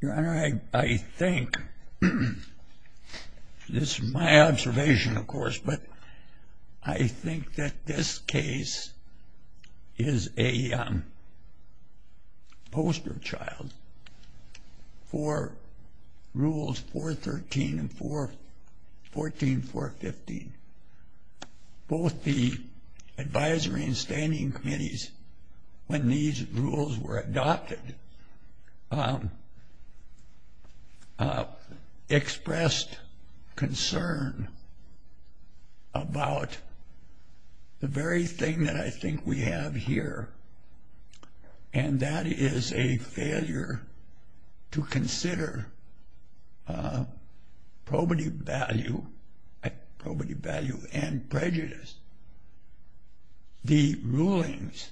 Your Honor, I think, this is my observation of course, but I think that this case is a poster child for Rules 413 and 414 and 415. Both the advisory and standing committees, when these rules were adopted, expressed concern about the very thing that I think we have here, and that is a failure to consider probity value and prejudice. The rulings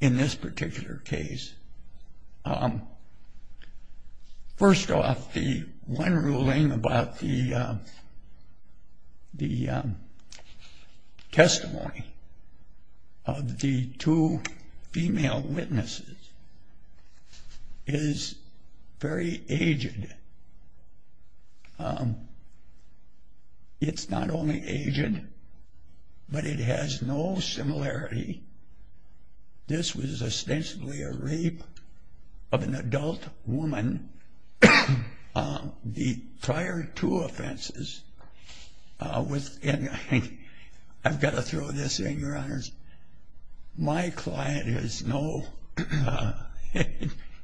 in this particular case, first off, the one ruling about the testimony of the two female witnesses is very aged. It's not only aged, but it has no similarity. This was ostensibly a rape of an adult woman. The prior two offenses, and I've got to throw this in, Your Honors, my client is no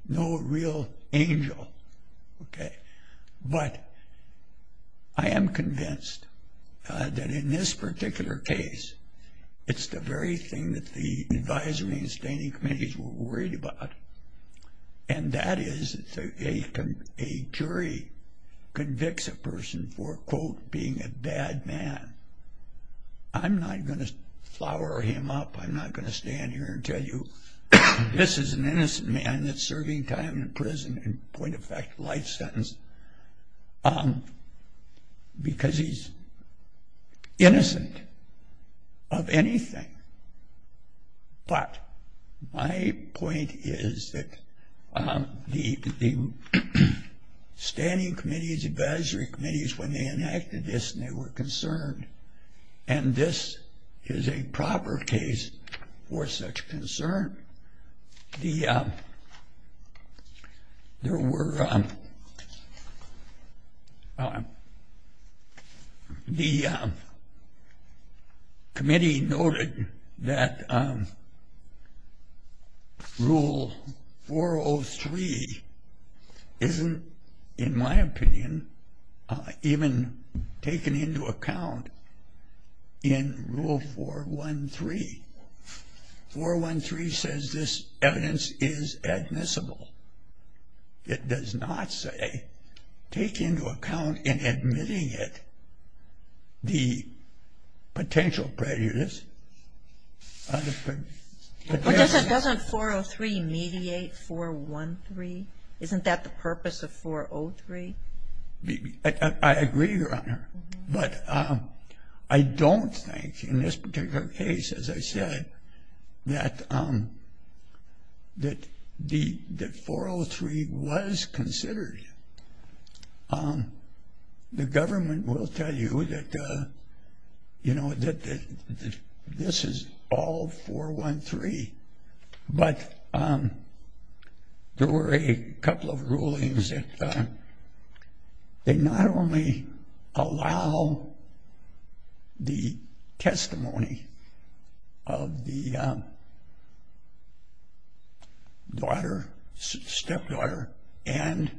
real angel, okay? But I am convinced that in this particular case, it's the very thing that the advisory and standing committees were worried about, and that is a jury convicts a person for, quote, being a bad man. I'm not going to flower him up. I'm not going to stand here and tell you this is an innocent man that's serving time in prison and, point of fact, life sentence, because he's innocent of anything. But my point is that the standing committees, advisory committees, when they enacted this, they were concerned, and this is a proper case for such concern. The committee noted that Rule 403 isn't, in my opinion, even taken into account in Rule 413. 413 says this evidence is admissible. It does not say take into account in admitting it the potential prejudice. But doesn't 403 mediate 413? Isn't that the purpose of 403? I agree, Your Honor, but I don't think in this particular case, as I said, that 403 was considered. The government will tell you that this is all 413. But there were a couple of rulings that they not only allow the testimony of the daughter, stepdaughter, and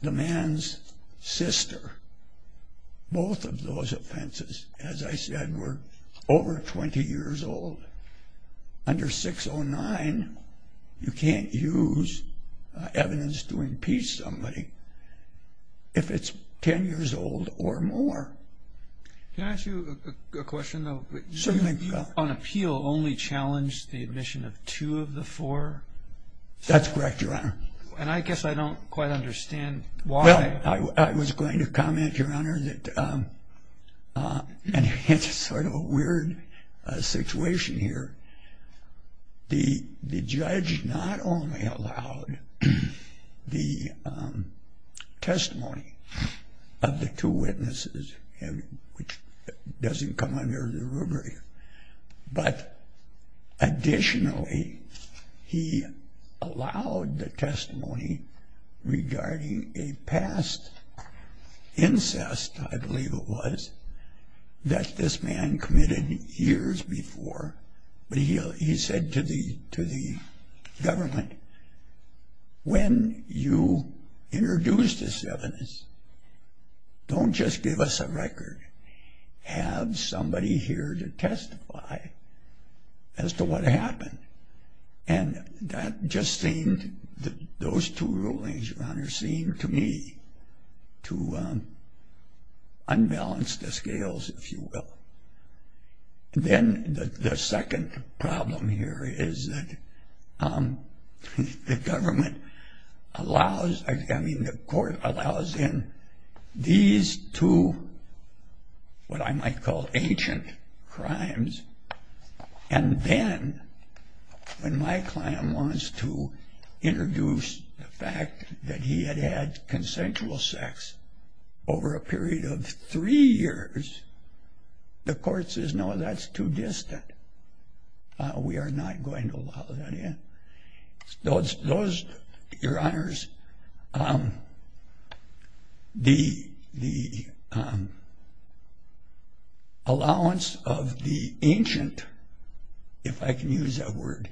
the man's sister, both of those offenses, as I said, were over 20 years old. Under 609, you can't use evidence to impeach somebody if it's 10 years old or more. Can I ask you a question, though? Certainly. You, on appeal, only challenged the admission of two of the four? That's correct, Your Honor. And I guess I don't quite understand why. Well, I was going to comment, Your Honor, that it's sort of a weird situation here. The judge not only allowed the testimony of the two witnesses, which doesn't come under the rubric, but additionally, he allowed the testimony regarding a past incest, I believe it was, that this man committed years before, but he said to the government, When you introduce this evidence, don't just give us a record. Have somebody here to testify as to what happened. And that just seemed, those two rulings, Your Honor, seemed to me to unbalance the scales, if you will. Then the second problem here is that the government allows, I mean, the court allows in these two what I might call ancient crimes. And then when my client wants to introduce the fact that he had had consensual sex over a period of three years, the court says, No, that's too distant. We are not going to allow that in. Those, Your Honors, the allowance of the ancient, if I can use that word,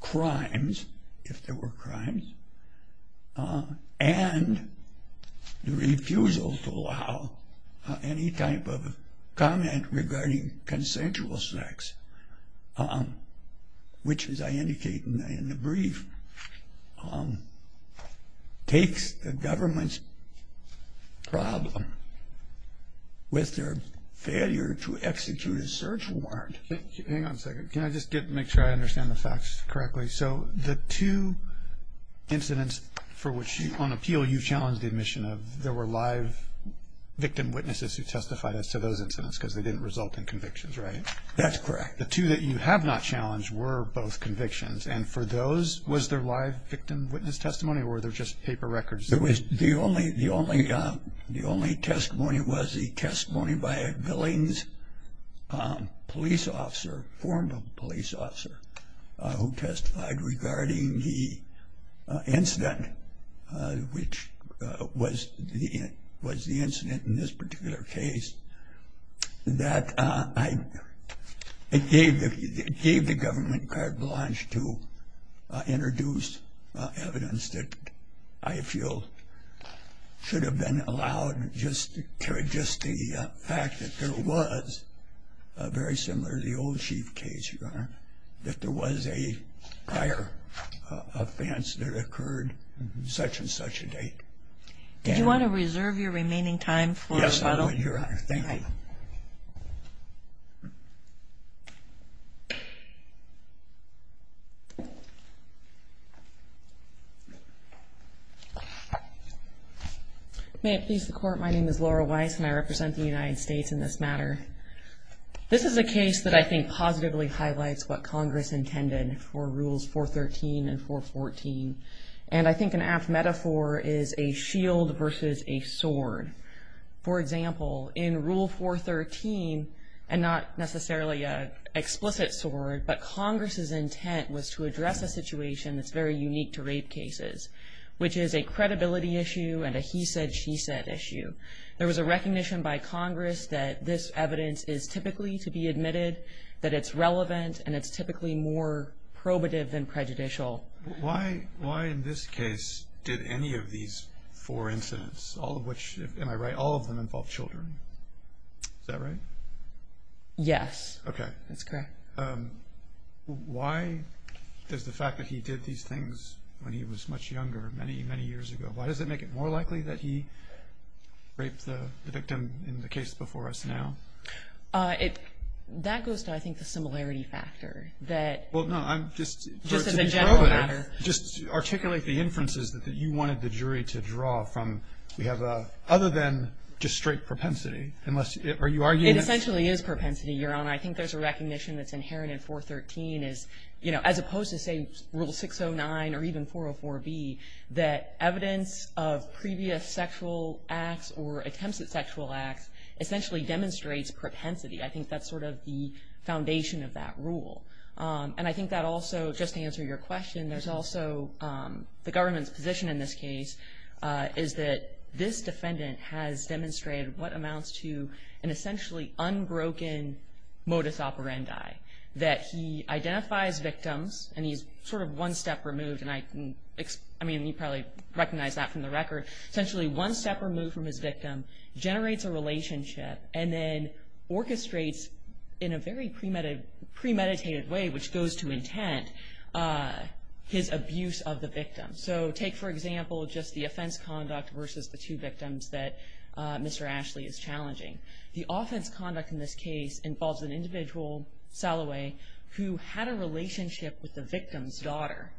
crimes, if there were crimes, and the refusal to allow any type of comment regarding consensual sex, which, as I indicate in the brief, takes the government's problem with their failure to execute a search warrant. Hang on a second. Can I just make sure I understand the facts correctly? So the two incidents for which, on appeal, you challenged the admission of, there were live victim witnesses who testified as to those incidents because they didn't result in convictions, right? That's correct. The two that you have not challenged were both convictions. And for those, was there live victim witness testimony or were there just paper records? The only testimony was the testimony by a Billings police officer, former police officer, who testified regarding the incident, which was the incident in this particular case, that it gave the government carte blanche to introduce evidence that I feel should have been allowed, just the fact that there was, very similar to the old Chief case, Your Honor, that there was a prior offense that occurred at such and such a date. Did you want to reserve your remaining time for us? Yes, Your Honor. Thank you. May it please the Court, my name is Laura Weiss and I represent the United States in this matter. This is a case that I think positively highlights what Congress intended for Rules 413 and 414. And I think an apt metaphor is a shield versus a sword. For example, in Rule 413, and not necessarily an explicit sword, but Congress's intent was to address a situation that's very unique to rape cases, which is a credibility issue and a he said, she said issue. There was a recognition by Congress that this evidence is typically to be admitted, that it's relevant, and it's typically more probative than prejudicial. Why in this case did any of these four incidents, all of which, am I right, all of them involve children? Is that right? Yes, that's correct. Why is the fact that he did these things when he was much younger, many, many years ago, why does it make it more likely that he raped the victim in the case before us now? That goes to, I think, the similarity factor. Well, no, I'm just. Just as a general matter. Just articulate the inferences that you wanted the jury to draw from. We have a, other than just straight propensity, unless, are you arguing. It essentially is propensity, Your Honor. I think there's a recognition that's inherent in 413 is, you know, as opposed to say Rule 609 or even 404B, that evidence of previous sexual acts or attempts at sexual acts essentially demonstrates propensity. I think that's sort of the foundation of that rule. And I think that also, just to answer your question, there's also the government's position in this case is that this defendant has demonstrated what amounts to an essentially unbroken modus operandi, that he identifies victims and he's sort of one step removed. And I can, I mean, you probably recognize that from the record. Essentially one step removed from his victim generates a relationship and then orchestrates in a very premeditated way, which goes to intent, his abuse of the victim. So take, for example, just the offense conduct versus the two victims that Mr. Ashley is challenging. The offense conduct in this case involves an individual, Salloway, who had a relationship with the victim's daughter.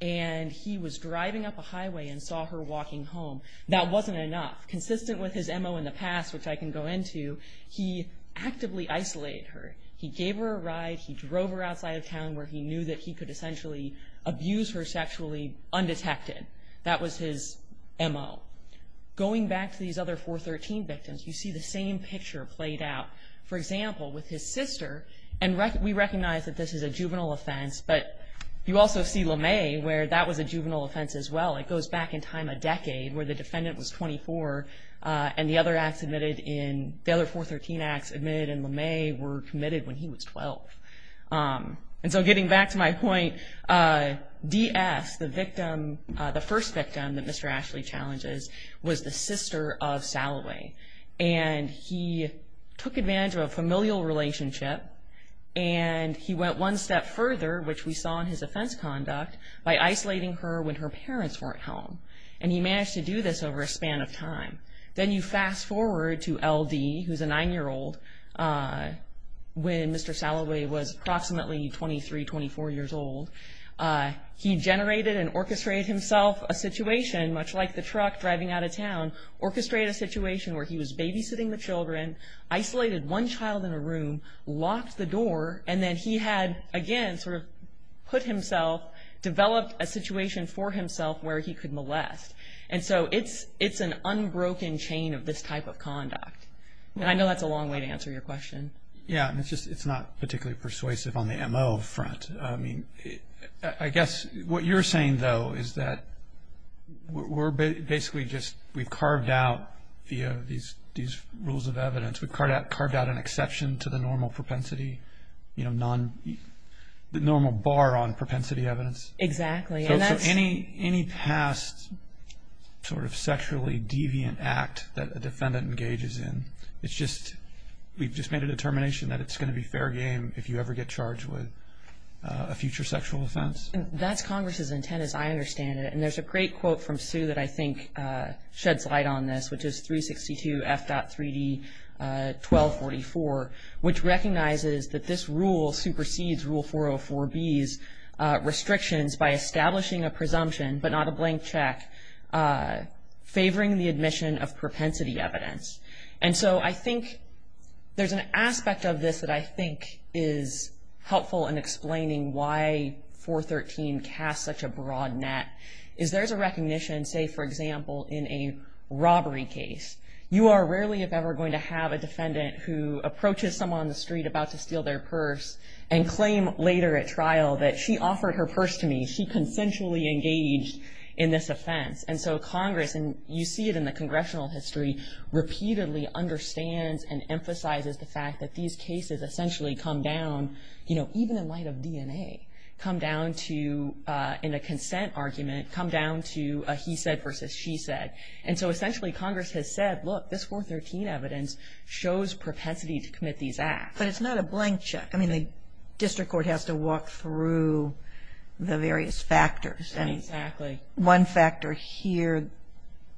And he was driving up a highway and saw her walking home. That wasn't enough. Consistent with his M.O. in the past, which I can go into, he actively isolated her. He gave her a ride. He drove her outside of town where he knew that he could essentially abuse her sexually undetected. That was his M.O. Going back to these other 413 victims, you see the same picture played out. For example, with his sister, and we recognize that this is a juvenile offense, but you also see LeMay where that was a juvenile offense as well. It goes back in time a decade where the defendant was 24, and the other 413 acts admitted in LeMay were committed when he was 12. And so getting back to my point, D.S., the first victim that Mr. Ashley challenges was the sister of Salloway. And he took advantage of a familial relationship, and he went one step further, which we saw in his offense conduct, by isolating her when her parents weren't home. And he managed to do this over a span of time. Then you fast forward to L.D., who's a 9-year-old, when Mr. Salloway was approximately 23, 24 years old. He generated and orchestrated himself a situation, much like the truck driving out of town, orchestrated a situation where he was babysitting the children, isolated one child in a room, locked the door, and then he had, again, sort of put himself, developed a situation for himself where he could molest. And so it's an unbroken chain of this type of conduct. And I know that's a long way to answer your question. Yeah, and it's not particularly persuasive on the M.O. front. I mean, I guess what you're saying, though, is that we're basically just we've carved out these rules of evidence. We've carved out an exception to the normal propensity, you know, the normal bar on propensity evidence. Exactly. So any past sort of sexually deviant act that a defendant engages in, it's just we've just made a determination that it's going to be fair game if you ever get charged with a future sexual offense. That's Congress's intent, as I understand it. And there's a great quote from Sue that I think sheds light on this, which is 362 F.3D 1244, which recognizes that this rule supersedes Rule 404B's restrictions by establishing a presumption, but not a blank check, favoring the admission of propensity evidence. And so I think there's an aspect of this that I think is helpful in explaining why 413 casts such a broad net, is there's a recognition, say, for example, in a robbery case. You are rarely, if ever, going to have a defendant who approaches someone on the street about to steal their purse and claim later at trial that she offered her purse to me. She consensually engaged in this offense. And so Congress, and you see it in the congressional history, repeatedly understands and emphasizes the fact that these cases essentially come down, you know, even in light of DNA, come down to, in a consent argument, come down to a he said versus she said. And so essentially Congress has said, look, this 413 evidence shows propensity to commit these acts. But it's not a blank check. I mean, the district court has to walk through the various factors. Exactly. And one factor here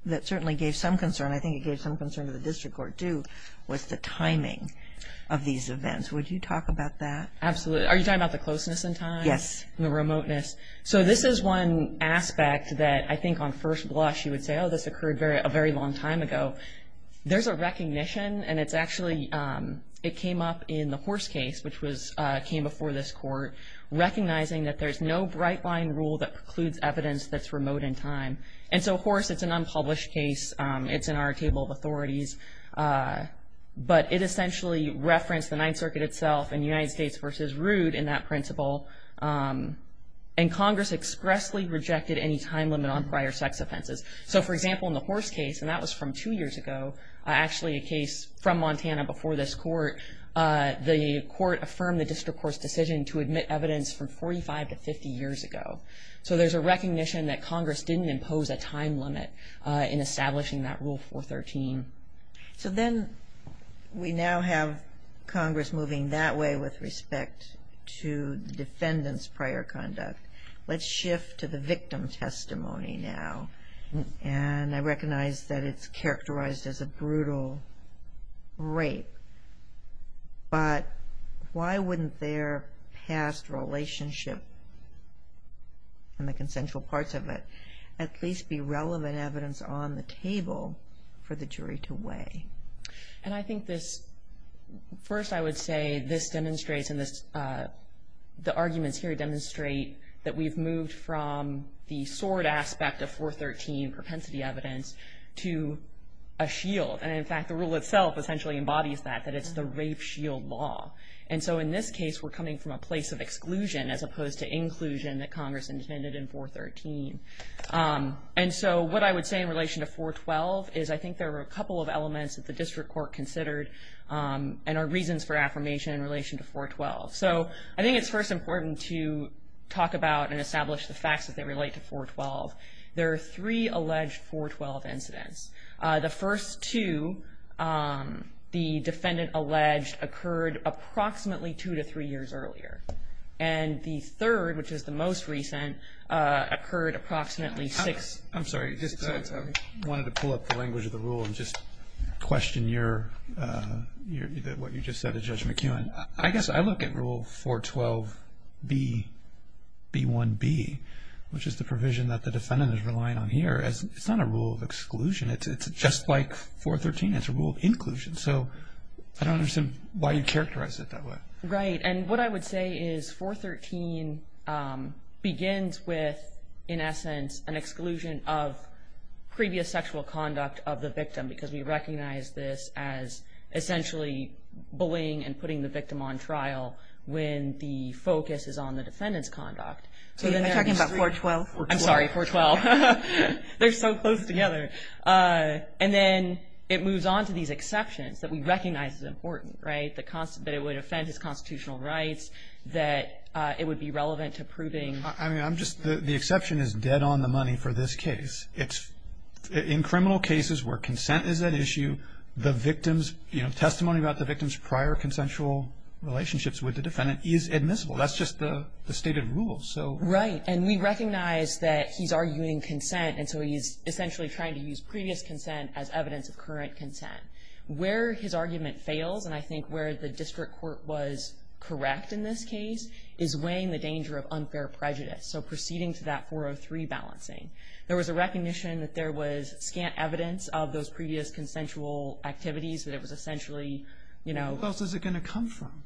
that certainly gave some concern, I think it gave some concern to the district court, too, was the timing of these events. Would you talk about that? Absolutely. Are you talking about the closeness in time? Yes. And the remoteness. So this is one aspect that I think on first blush you would say, oh, this occurred a very long time ago. There's a recognition, and it's actually, it came up in the Horse case, which came before this court, recognizing that there's no bright line rule that precludes evidence that's remote in time. And so Horse, it's an unpublished case. It's in our table of authorities. But it essentially referenced the Ninth Circuit itself and United States v. Root in that principle. And Congress expressly rejected any time limit on prior sex offenses. So, for example, in the Horse case, and that was from two years ago, actually a case from Montana before this court, the court affirmed the district court's decision to admit evidence from 45 to 50 years ago. So there's a recognition that Congress didn't impose a time limit in establishing that Rule 413. So then we now have Congress moving that way with respect to the defendant's prior conduct. Let's shift to the victim testimony now. And I recognize that it's characterized as a brutal rape. But why wouldn't their past relationship and the consensual parts of it at least be relevant evidence on the table for the jury to weigh? And I think this, first I would say this demonstrates and the arguments here demonstrate that we've moved from the sword aspect of 413 propensity evidence to a shield. And, in fact, the rule itself essentially embodies that, that it's the rape shield law. as opposed to inclusion that Congress intended in 413. And so what I would say in relation to 412 is I think there are a couple of elements that the district court considered and are reasons for affirmation in relation to 412. So I think it's first important to talk about and establish the facts as they relate to 412. There are three alleged 412 incidents. The first two, the defendant alleged, occurred approximately two to three years earlier. And the third, which is the most recent, occurred approximately six. I'm sorry. I just wanted to pull up the language of the rule and just question what you just said to Judge McEwen. I guess I look at Rule 412B, B1B, which is the provision that the defendant is relying on here. It's not a rule of exclusion. It's just like 413. It's a rule of inclusion. So I don't understand why you characterize it that way. Right. And what I would say is 413 begins with, in essence, an exclusion of previous sexual conduct of the victim because we recognize this as essentially bullying and putting the victim on trial when the focus is on the defendant's conduct. Are you talking about 412? I'm sorry, 412. They're so close together. And then it moves on to these exceptions that we recognize as important, right, that it would offend his constitutional rights, that it would be relevant to proving. I mean, the exception is dead on the money for this case. In criminal cases where consent is at issue, the victim's testimony about the victim's prior consensual relationships with the defendant is admissible. That's just the stated rule. Right. And we recognize that he's arguing consent, and so he's essentially trying to use previous consent as evidence of current consent. Where his argument fails, and I think where the district court was correct in this case, is weighing the danger of unfair prejudice, so proceeding to that 403 balancing. There was a recognition that there was scant evidence of those previous consensual activities, that it was essentially, you know. Who else is it going to come from?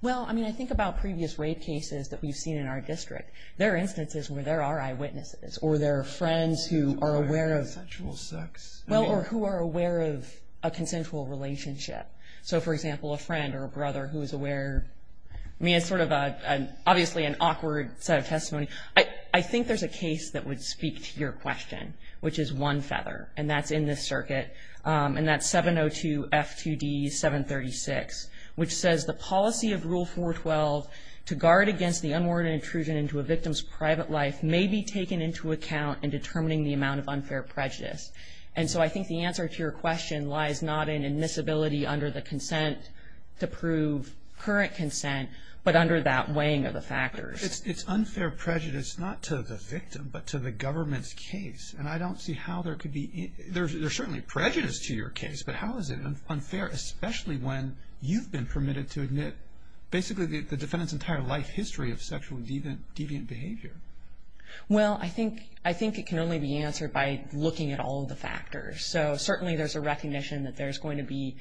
Well, I mean, I think about previous rape cases that we've seen in our district. There are instances where there are eyewitnesses or there are friends who are aware of. Consensual sex. Well, or who are aware of a consensual relationship. So, for example, a friend or a brother who is aware. I mean, it's sort of obviously an awkward set of testimony. I think there's a case that would speak to your question, which is one feather, and that's in this circuit, and that's 702 F2D 736, which says the policy of Rule 412 to guard against the unwarranted intrusion into a victim's private life may be taken into account in determining the amount of unfair prejudice. And so I think the answer to your question lies not in admissibility under the consent to prove current consent, but under that weighing of the factors. It's unfair prejudice not to the victim, but to the government's case, and I don't see how there could be any. There's certainly prejudice to your case, but how is it unfair, especially when you've been permitted to admit basically the defendant's entire life history of sexually deviant behavior? Well, I think it can only be answered by looking at all of the factors. So certainly there's a recognition that there's going to be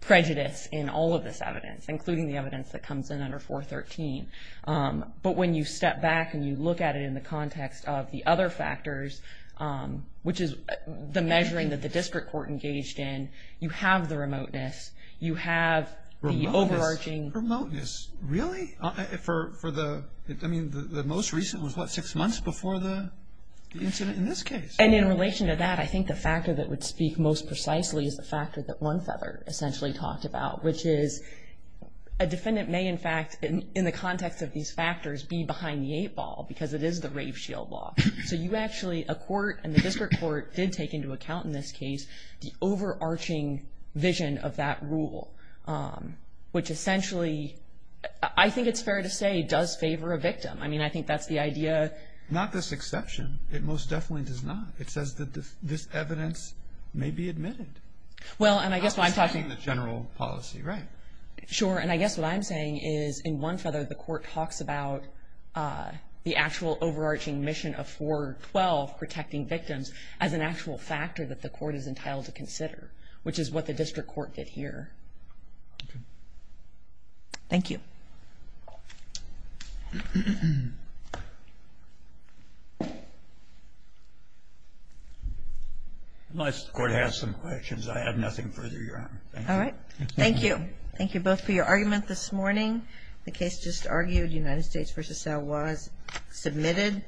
prejudice in all of this evidence, including the evidence that comes in under 413. But when you step back and you look at it in the context of the other factors, which is the measuring that the district court engaged in, you have the remoteness. You have the overarching. Remoteness? Really? I mean, the most recent was what, six months before the incident in this case? And in relation to that, I think the factor that would speak most precisely is the factor that one feather essentially talked about, which is a defendant may, in fact, in the context of these factors, be behind the eight ball because it is the rape shield law. So you actually, a court and the district court did take into account in this case the overarching vision of that rule, which essentially, I think it's fair to say, does favor a victim. I mean, I think that's the idea. Not this exception. It most definitely does not. It says that this evidence may be admitted. Well, and I guess what I'm talking about. I'm just saying the general policy, right? Sure. And I guess what I'm saying is in one feather the court talks about the actual overarching mission of 412, protecting victims, as an actual factor that the court is entitled to consider, which is what the district court did here. Okay. Thank you. Unless the court has some questions, I have nothing further your honor. All right. Thank you. Thank you both for your argument this morning. The case just argued, United States v. Salwaz, submitted.